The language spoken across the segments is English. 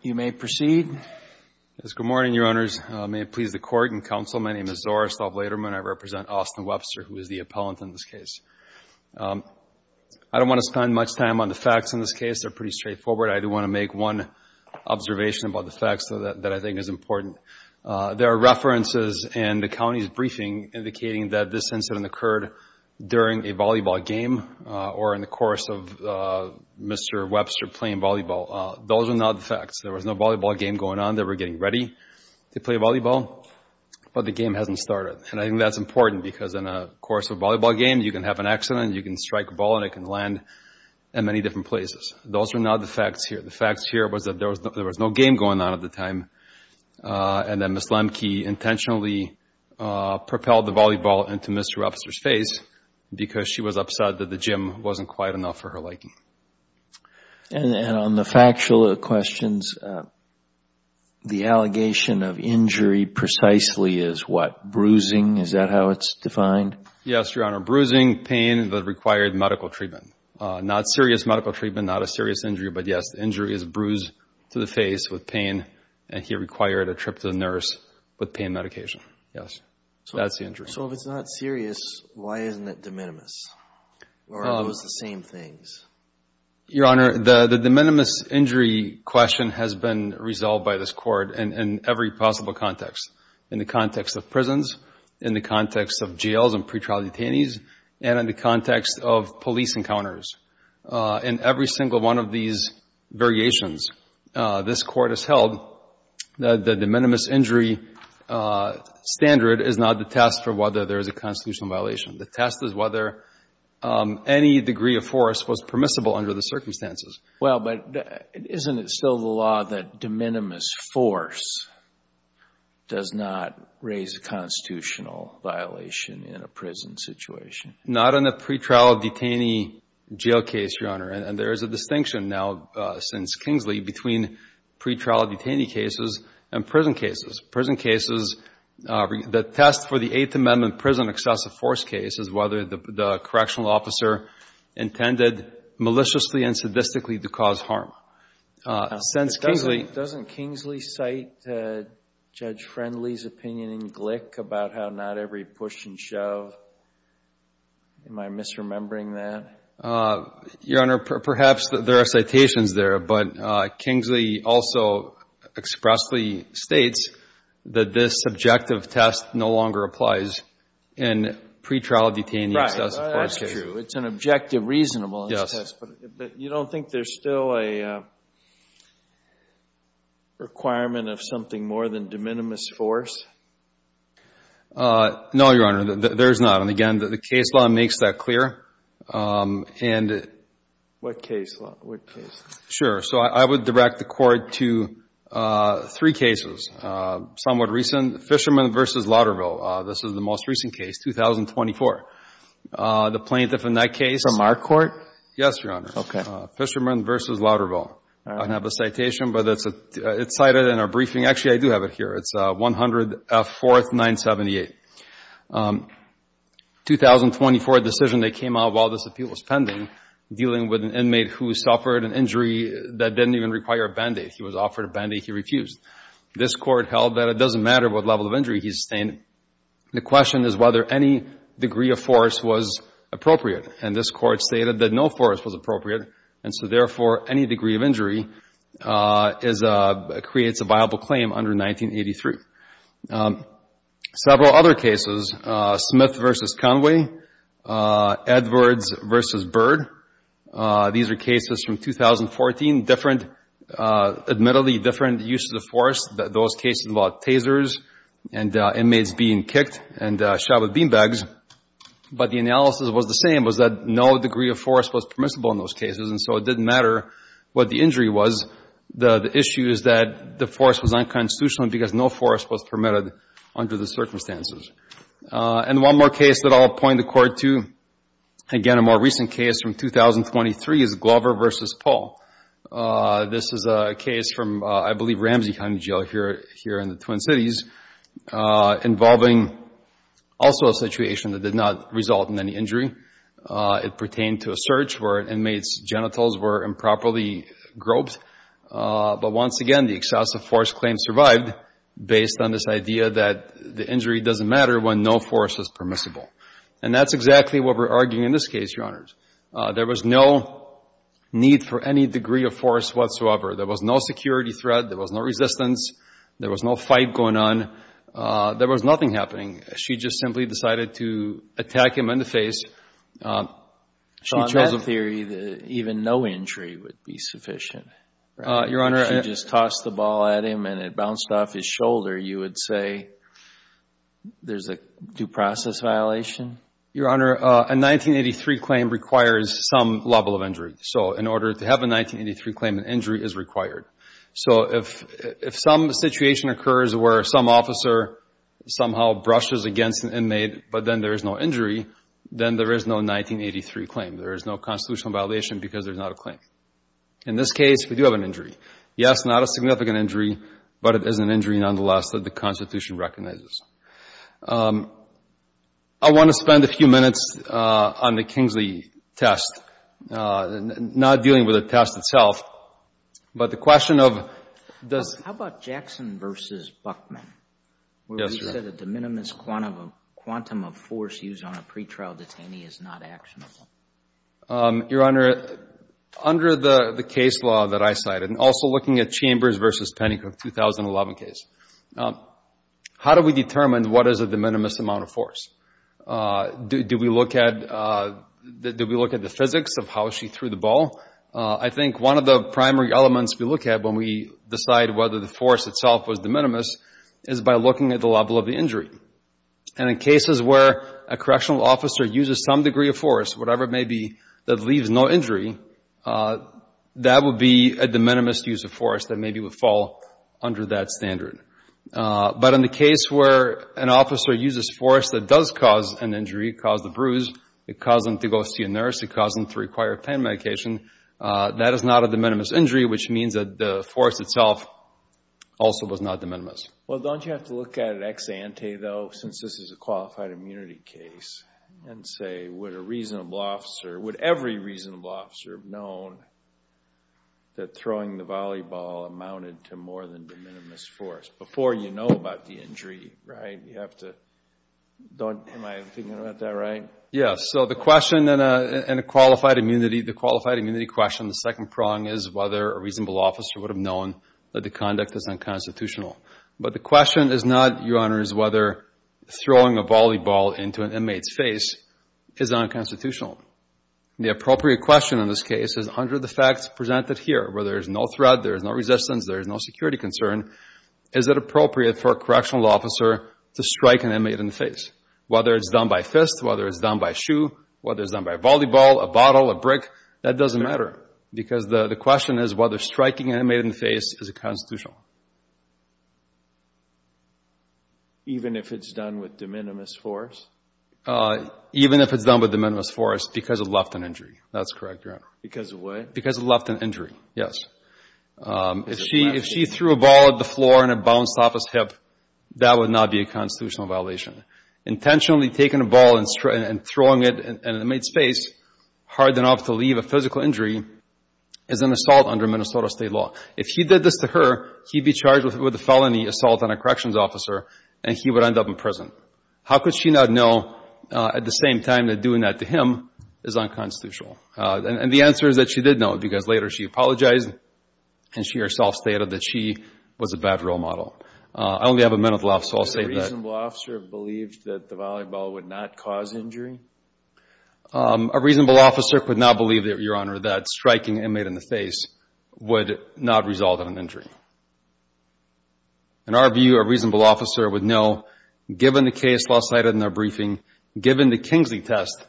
You may proceed. Good morning, Your Honors. May it please the Court and Counsel, my name is Zora Staub-Laterman. I represent Austin Webster, who is the appellant in this case. I don't want to spend much time on the facts in this case. They're pretty straightforward. I do want to make one observation about the facts that I think is important. There are references in the county's briefing indicating that this incident occurred during a volleyball game or in the course of Mr. Webster playing volleyball. Those are not the facts. There was no volleyball game going on. They were getting ready to play volleyball, but the game hasn't started. And I think that's important because in the course of a volleyball game, you can have an accident, you can strike a ball, and it can land in many different places. Those are not the facts here. The facts here was that there was no game going on at the time, and that Ms. Lemke intentionally propelled the volleyball into Mr. Webster's face because she was upset that the gym wasn't quiet enough for her liking. And on the factual questions, the allegation of injury precisely is what, bruising? Is that how it's defined? Yes, Your Honor. Bruising, pain that required medical treatment. Not serious medical treatment, not a serious injury. But yes, the injury is bruised to the face with pain, and he required a trip to the nurse with pain medication. Yes. That's the injury. So if it's not serious, why isn't it de minimis? Or are those the same things? Your Honor, the de minimis injury question has been resolved by this Court in every possible context. In the context of prisons, in the context of jails and pretrial detainees, and in the context of police encounters. In every single one of these variations, this Court has held that the de minimis injury standard is not the test for whether there is a constitutional violation. The test is whether any degree of force was permissible under the circumstances. Well, but isn't it still the law that de minimis force does not raise a constitutional violation in a prison situation? Not in a pretrial detainee jail case, Your Honor. And there is a distinction now since Kingsley between pretrial detainee cases and prison cases. Prison cases, the test for the Eighth Amendment prison excessive force case is whether the correctional officer intended maliciously and sadistically to cause harm. Now, doesn't Kingsley cite Judge Friendly's opinion in Glick about how not every push and shove? Am I misremembering that? Your Honor, perhaps there are citations there. But Kingsley also expressly states that this subjective test no longer applies in pretrial detainee excessive force cases. Right. That's true. It's an objective, reasonable test. But you don't think there's still a requirement of something more than de minimis force? No, Your Honor. There's not. And again, the case law makes that clear. What case law? What case law? Sure. So I would direct the Court to three cases, somewhat recent. Fisherman v. Lauderville. This is the most recent case, 2024. The plaintiff in that case. From our court? Yes, Your Honor. Okay. Fisherman v. Lauderville. All right. I don't have a citation, but it's cited in our briefing. Actually, I do have it here. It's 104th 978. 2024 decision that came out while this appeal was pending, dealing with an inmate who suffered an injury that didn't even require a Band-Aid. He was offered a Band-Aid. He refused. This Court held that it doesn't matter what level of injury he sustained. The question is whether any degree of force was appropriate. And this Court stated that no force was appropriate. And so, therefore, any degree of injury creates a viable claim under 1983. Several other cases. Smith v. Conway. Edwards v. Bird. These are cases from 2014, different, admittedly different uses of force. Those cases involved tasers and inmates being kicked and shot with beanbags. But the analysis was the same, was that no degree of force was permissible in those cases. And so it didn't matter what the injury was. The issue is that the force was unconstitutional because no force was permitted under the circumstances. And one more case that I'll point the Court to, again, a more recent case from 2023, is Glover v. Paul. This is a case from, I believe, Ramsey County Jail here in the Twin Cities, involving also a situation that did not result in any injury. It pertained to a search where an inmate's genitals were improperly groped. But once again, the excessive force claim survived based on this idea that the injury doesn't matter when no force is permissible. And that's exactly what we're arguing in this case, Your Honors. There was no need for any degree of force whatsoever. There was no security threat. There was no resistance. There was no fight going on. There was nothing happening. She just simply decided to attack him in the face. So on that theory, even no injury would be sufficient? Your Honor. If she just tossed the ball at him and it bounced off his shoulder, you would say there's a due process violation? Your Honor, a 1983 claim requires some level of injury. So in order to have a 1983 claim, an injury is required. So if some situation occurs where some officer somehow brushes against an inmate but then there is no injury, then there is no 1983 claim. There is no constitutional violation because there's not a claim. In this case, we do have an injury. Yes, not a significant injury, but it is an injury nonetheless that the Constitution recognizes. I want to spend a few minutes on the Kingsley test, not dealing with the test itself, but the question of does— How about Jackson v. Buckman? Yes, Your Honor. Where we said a de minimis quantum of force used on a pretrial detainee is not actionable? Your Honor, under the case law that I cited, and also looking at Chambers v. Penney from the 2011 case, how do we determine what is a de minimis amount of force? Do we look at the physics of how she threw the ball? I think one of the primary elements we look at when we decide whether the force itself was de minimis is by looking at the level of the injury. And in cases where a correctional officer uses some degree of force, whatever it may be, that leaves no injury, that would be a de minimis use of force that maybe would fall under that standard. But in the case where an officer uses force that does cause an injury, cause the bruise, it causes them to go see a nurse, it causes them to require pain medication, that is not a de minimis injury, which means that the force itself also was not de minimis. Well, don't you have to look at it ex ante, though, since this is a qualified immunity case, and say would a reasonable officer, would every reasonable officer have known that throwing the volleyball amounted to more than de minimis force before you know about the injury, right? You have to—am I thinking about that right? Yes. So the question in a qualified immunity, the qualified immunity question, the second prong is whether a reasonable officer would have known that the conduct is unconstitutional. But the question is not, Your Honor, is whether throwing a volleyball into an inmate's face is unconstitutional. The appropriate question in this case is under the facts presented here, where there is no threat, there is no resistance, there is no security concern, is it appropriate for a correctional officer to strike an inmate in the face? Whether it's done by fist, whether it's done by shoe, whether it's done by volleyball, a bottle, a brick, that doesn't matter because the question is whether striking an inmate in the face is unconstitutional. Even if it's done with de minimis force? Even if it's done with de minimis force because of left-hand injury. That's correct, Your Honor. Because of what? Because of left-hand injury, yes. If she threw a ball at the floor and it bounced off his hip, that would not be a constitutional violation. Intentionally taking a ball and throwing it in an inmate's face, hard enough to leave a physical injury, is an assault under Minnesota State law. If he did this to her, he'd be charged with a felony assault on a corrections officer, and he would end up in prison. How could she not know at the same time that doing that to him is unconstitutional? And the answer is that she did know because later she apologized, and she herself stated that she was a bad role model. I only have a minute left, so I'll save that. A reasonable officer believed that the volleyball would not cause injury? A reasonable officer could not believe, Your Honor, that striking an inmate in the face would not result in an injury. In our view, a reasonable officer would know, given the case law cited in our briefing, given the Kingsley test,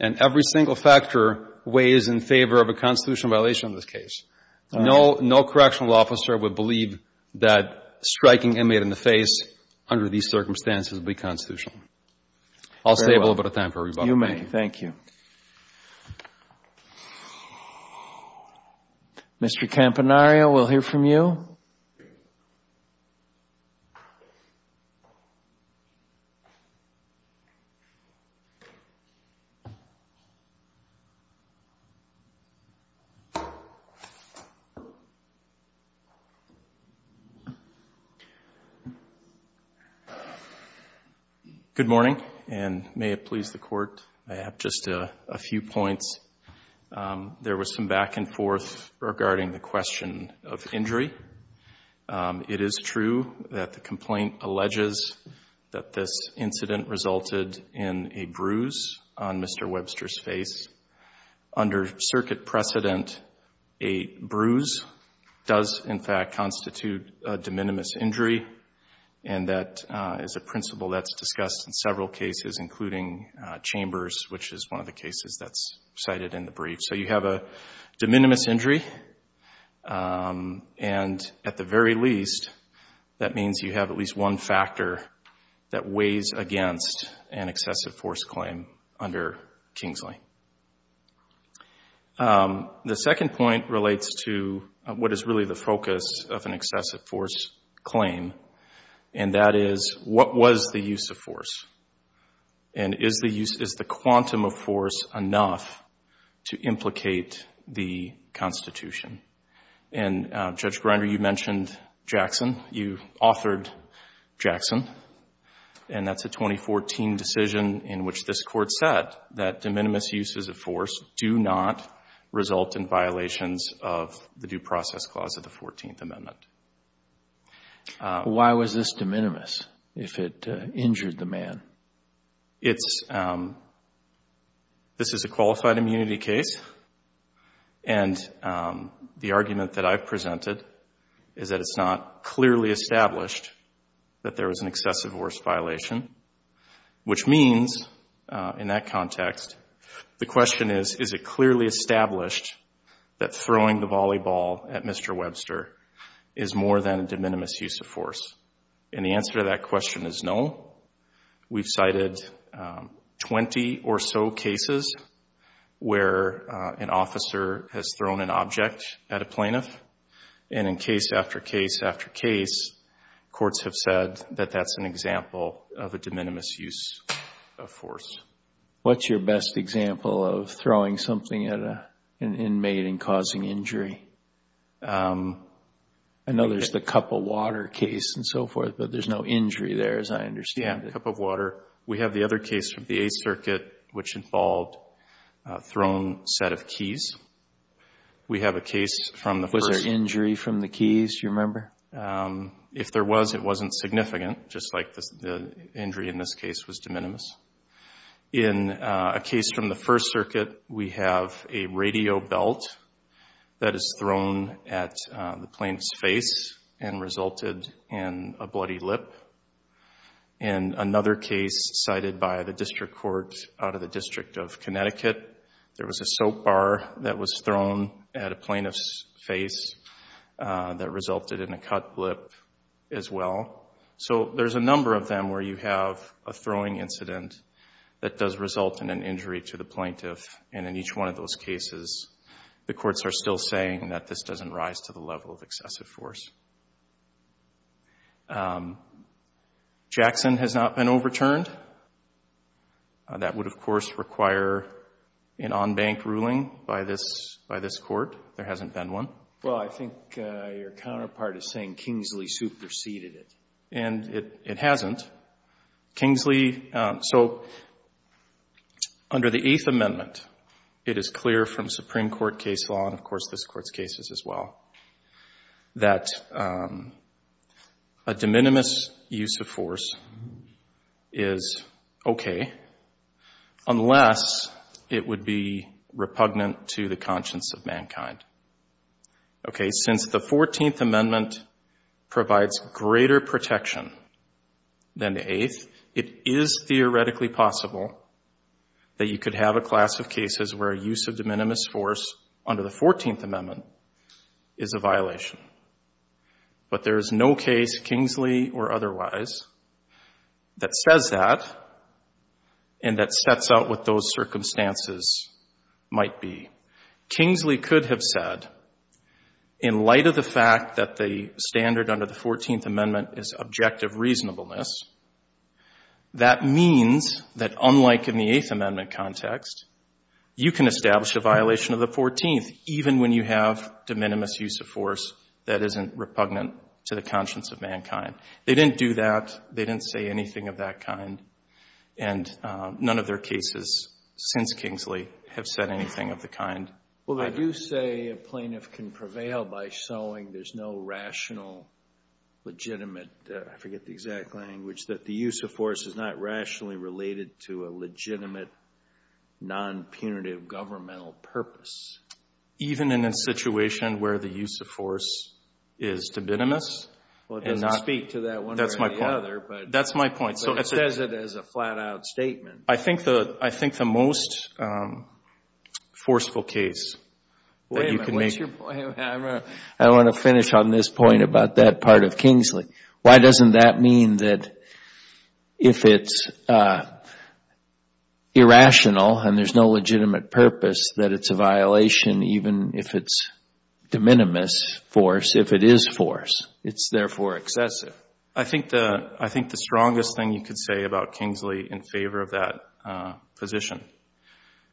and every single factor, weighs in favor of a constitutional violation of this case. No correctional officer would believe that striking an inmate in the face under these circumstances would be constitutional. I'll save a little bit of time for rebuttal. Thank you. Mr. Campanario, we'll hear from you. Good morning, and may it please the Court, I have just a few points. There was some back and forth regarding the question of injury. It is true that the complaint alleges that this incident resulted in a bruise on Mr. Webster's face. Under circuit precedent, a bruise does, in fact, constitute a de minimis injury, and that is a principle that's discussed in several cases, including Chambers, which is one of the cases that's cited in the brief. So you have a de minimis injury, and at the very least, that means you have at least one factor that weighs against an excessive force claim under Kingsley. The second point relates to what is really the focus of an excessive force claim, and that is, what was the use of force? And is the quantum of force enough to implicate the Constitution? And Judge Grinder, you mentioned Jackson, you authored Jackson, and that's a 2014 decision in which this Court said that de minimis uses of force do not result in violations of the Due Process Clause of the 14th Amendment. Why was this de minimis, if it injured the man? It's, this is a qualified immunity case, and the argument that I've presented is that it's not clearly established that there was an excessive force violation, which means, in that context, the question is, is it clearly established that throwing the volleyball at Mr. Webster is more than a de minimis use of force? And the answer to that question is no. We've cited 20 or so cases where an officer has thrown an object at a plaintiff, and in case after case after case, courts have said that that's an example of a de minimis use of force. What's your best example of throwing something at an inmate and causing injury? I know there's the cup of water case and so forth, but there's no injury there, as I understand it. Yeah, cup of water. We have the other case from the Eighth Circuit, which involved a thrown set of keys. We have a case from the first. Was there injury from the keys, do you remember? If there was, it wasn't significant, just like the injury in this case was de minimis. In a case from the First Circuit, we have a radio belt that is thrown at the plaintiff's face and resulted in a bloody lip. In another case cited by the district court out of the District of Connecticut, there was a soap bar that was thrown at a plaintiff's face that resulted in a cut lip as well. So there's a number of them where you have a throwing incident that does result in an injury to the plaintiff. And in each one of those cases, the courts are still saying that this doesn't rise to the level of excessive force. Jackson has not been overturned. That would, of course, require an on-bank ruling by this court. There hasn't been one. Well, I think your counterpart is saying Kingsley superseded it. And it hasn't. Kingsley, so under the Eighth Amendment, it is clear from Supreme Court case law, and, of course, this Court's cases as well, that a de minimis use of force is okay unless it would be repugnant to the conscience of mankind. Okay, since the Fourteenth Amendment provides greater protection than the Eighth, it is theoretically possible that you could have a class of cases where a use of de minimis force under the Fourteenth Amendment is a violation. But there is no case, Kingsley or otherwise, that says that and that sets out what those circumstances might be. Kingsley could have said, in light of the fact that the standard under the Fourteenth Amendment is objective reasonableness, that means that unlike in the Eighth Amendment context, you can establish a violation of the Fourteenth even when you have de minimis use of force that isn't repugnant to the conscience of mankind. They didn't do that. They didn't say anything of that kind. And none of their cases since Kingsley have said anything of the kind. I do say a plaintiff can prevail by showing there's no rational, legitimate, I forget the exact language, that the use of force is not rationally related to a legitimate, non-punitive governmental purpose. Even in a situation where the use of force is de minimis? Well, it doesn't speak to that one way or the other. That's my point. It says it as a flat-out statement. I think the most forceful case that you can make. Wait a minute. I want to finish on this point about that part of Kingsley. Why doesn't that mean that if it's irrational and there's no legitimate purpose, that it's a violation even if it's de minimis force, if it is force? It's therefore excessive. I think the strongest thing you could say about Kingsley in favor of that position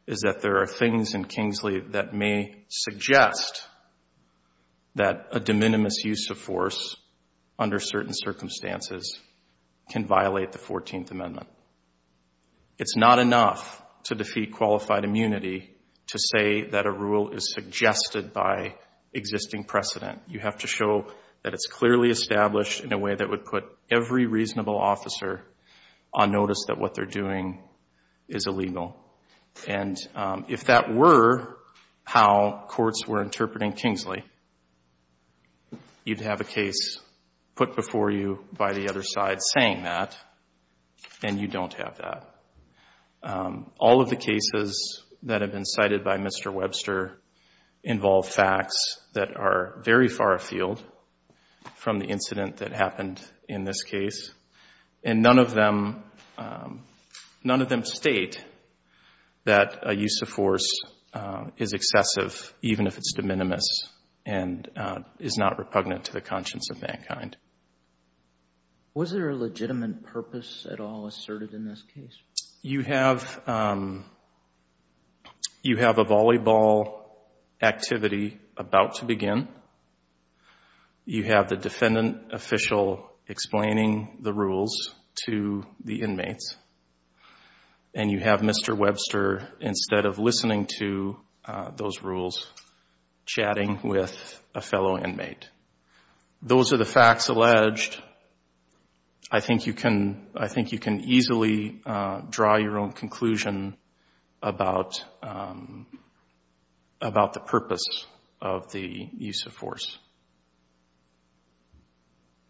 is that there are things in Kingsley that may suggest that a de minimis use of force under certain circumstances can violate the 14th Amendment. It's not enough to defeat qualified immunity to say that a rule is suggested by existing precedent. You have to show that it's clearly established in a way that would put every reasonable officer on notice that what they're doing is illegal. And if that were how courts were interpreting Kingsley, you'd have a case put before you by the other side saying that, and you don't have that. All of the cases that have been cited by Mr. Webster involve facts that are very far afield from the incident that happened in this case, and none of them state that a use of force is excessive even if it's de minimis and is not repugnant to the conscience of mankind. Was there a legitimate purpose at all asserted in this case? You have a volleyball activity about to begin. You have the defendant official explaining the rules to the inmates, and you have Mr. Webster, instead of listening to those rules, chatting with a fellow inmate. Those are the facts alleged. I think you can easily draw your own conclusion about the purpose of the use of force.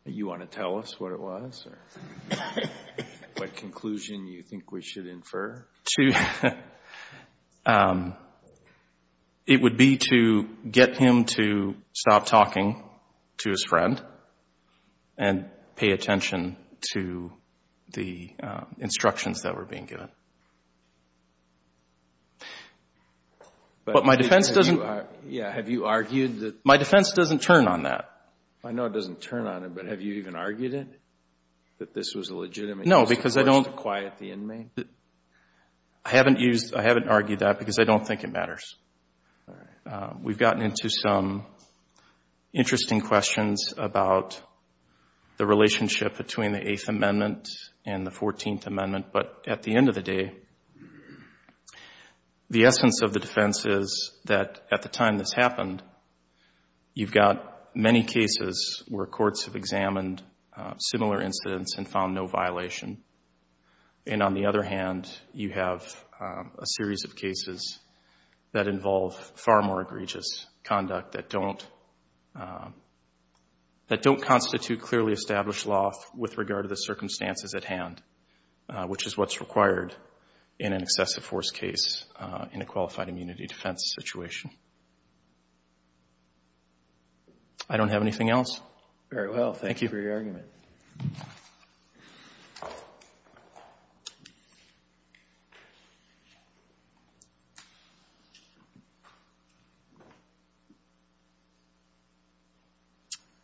You want to tell us what it was or what conclusion you think we should infer? It would be to get him to stop talking to his friend and pay attention to the instructions that were being given. But my defense doesn't... Yeah, have you argued that... My defense doesn't turn on that. I know it doesn't turn on it, but have you even argued it, that this was a legitimate use of force to quiet the inmate? I haven't argued that because I don't think it matters. We've gotten into some interesting questions about the relationship between the Eighth Amendment and the Fourteenth Amendment, but at the end of the day, the essence of the defense is that at the time this happened, you've got many cases where courts have examined similar incidents and found no violation. And on the other hand, you have a series of cases that involve far more egregious conduct that don't constitute clearly established law with regard to the circumstances at hand, which is what's required in an excessive force case in a qualified immunity defense situation. I don't have anything else. Very well. Thank you for your argument.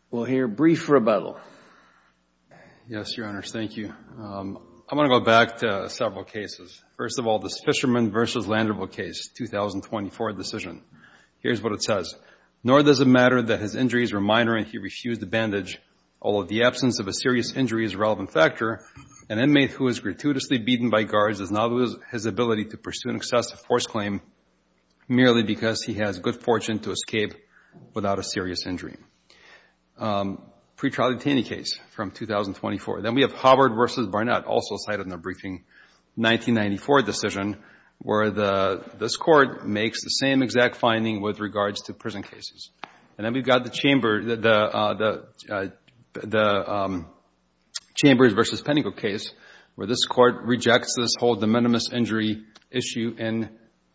We'll hear brief rebuttal. Yes, Your Honors, thank you. I'm going to go back to several cases. First of all, this Fisherman v. Landerville case, 2024 decision. Here's what it says. Nor does it matter that his injuries were minor and he refused a bandage, although the absence of a serious injury is a relevant factor. An inmate who is gratuitously beaten by guards does not lose his ability to pursue an excessive force claim merely because he has good fortune to escape without a serious injury. Pre-trial detainee case from 2024. Then we have Hubbard v. Barnett, also cited in the briefing, 1994 decision, where this Court makes the same exact finding with regards to prison cases. And then we've got the Chambers v. Pennington case, where this Court rejects this whole de minimis injury issue in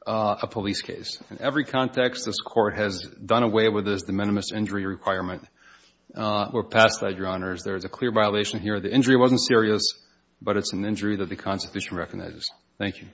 a police case. In every context, this Court has done away with this de minimis injury requirement. We're past that, Your Honors. There is a clear violation here. The injury wasn't serious, but it's an injury that the Constitution recognizes. Thank you.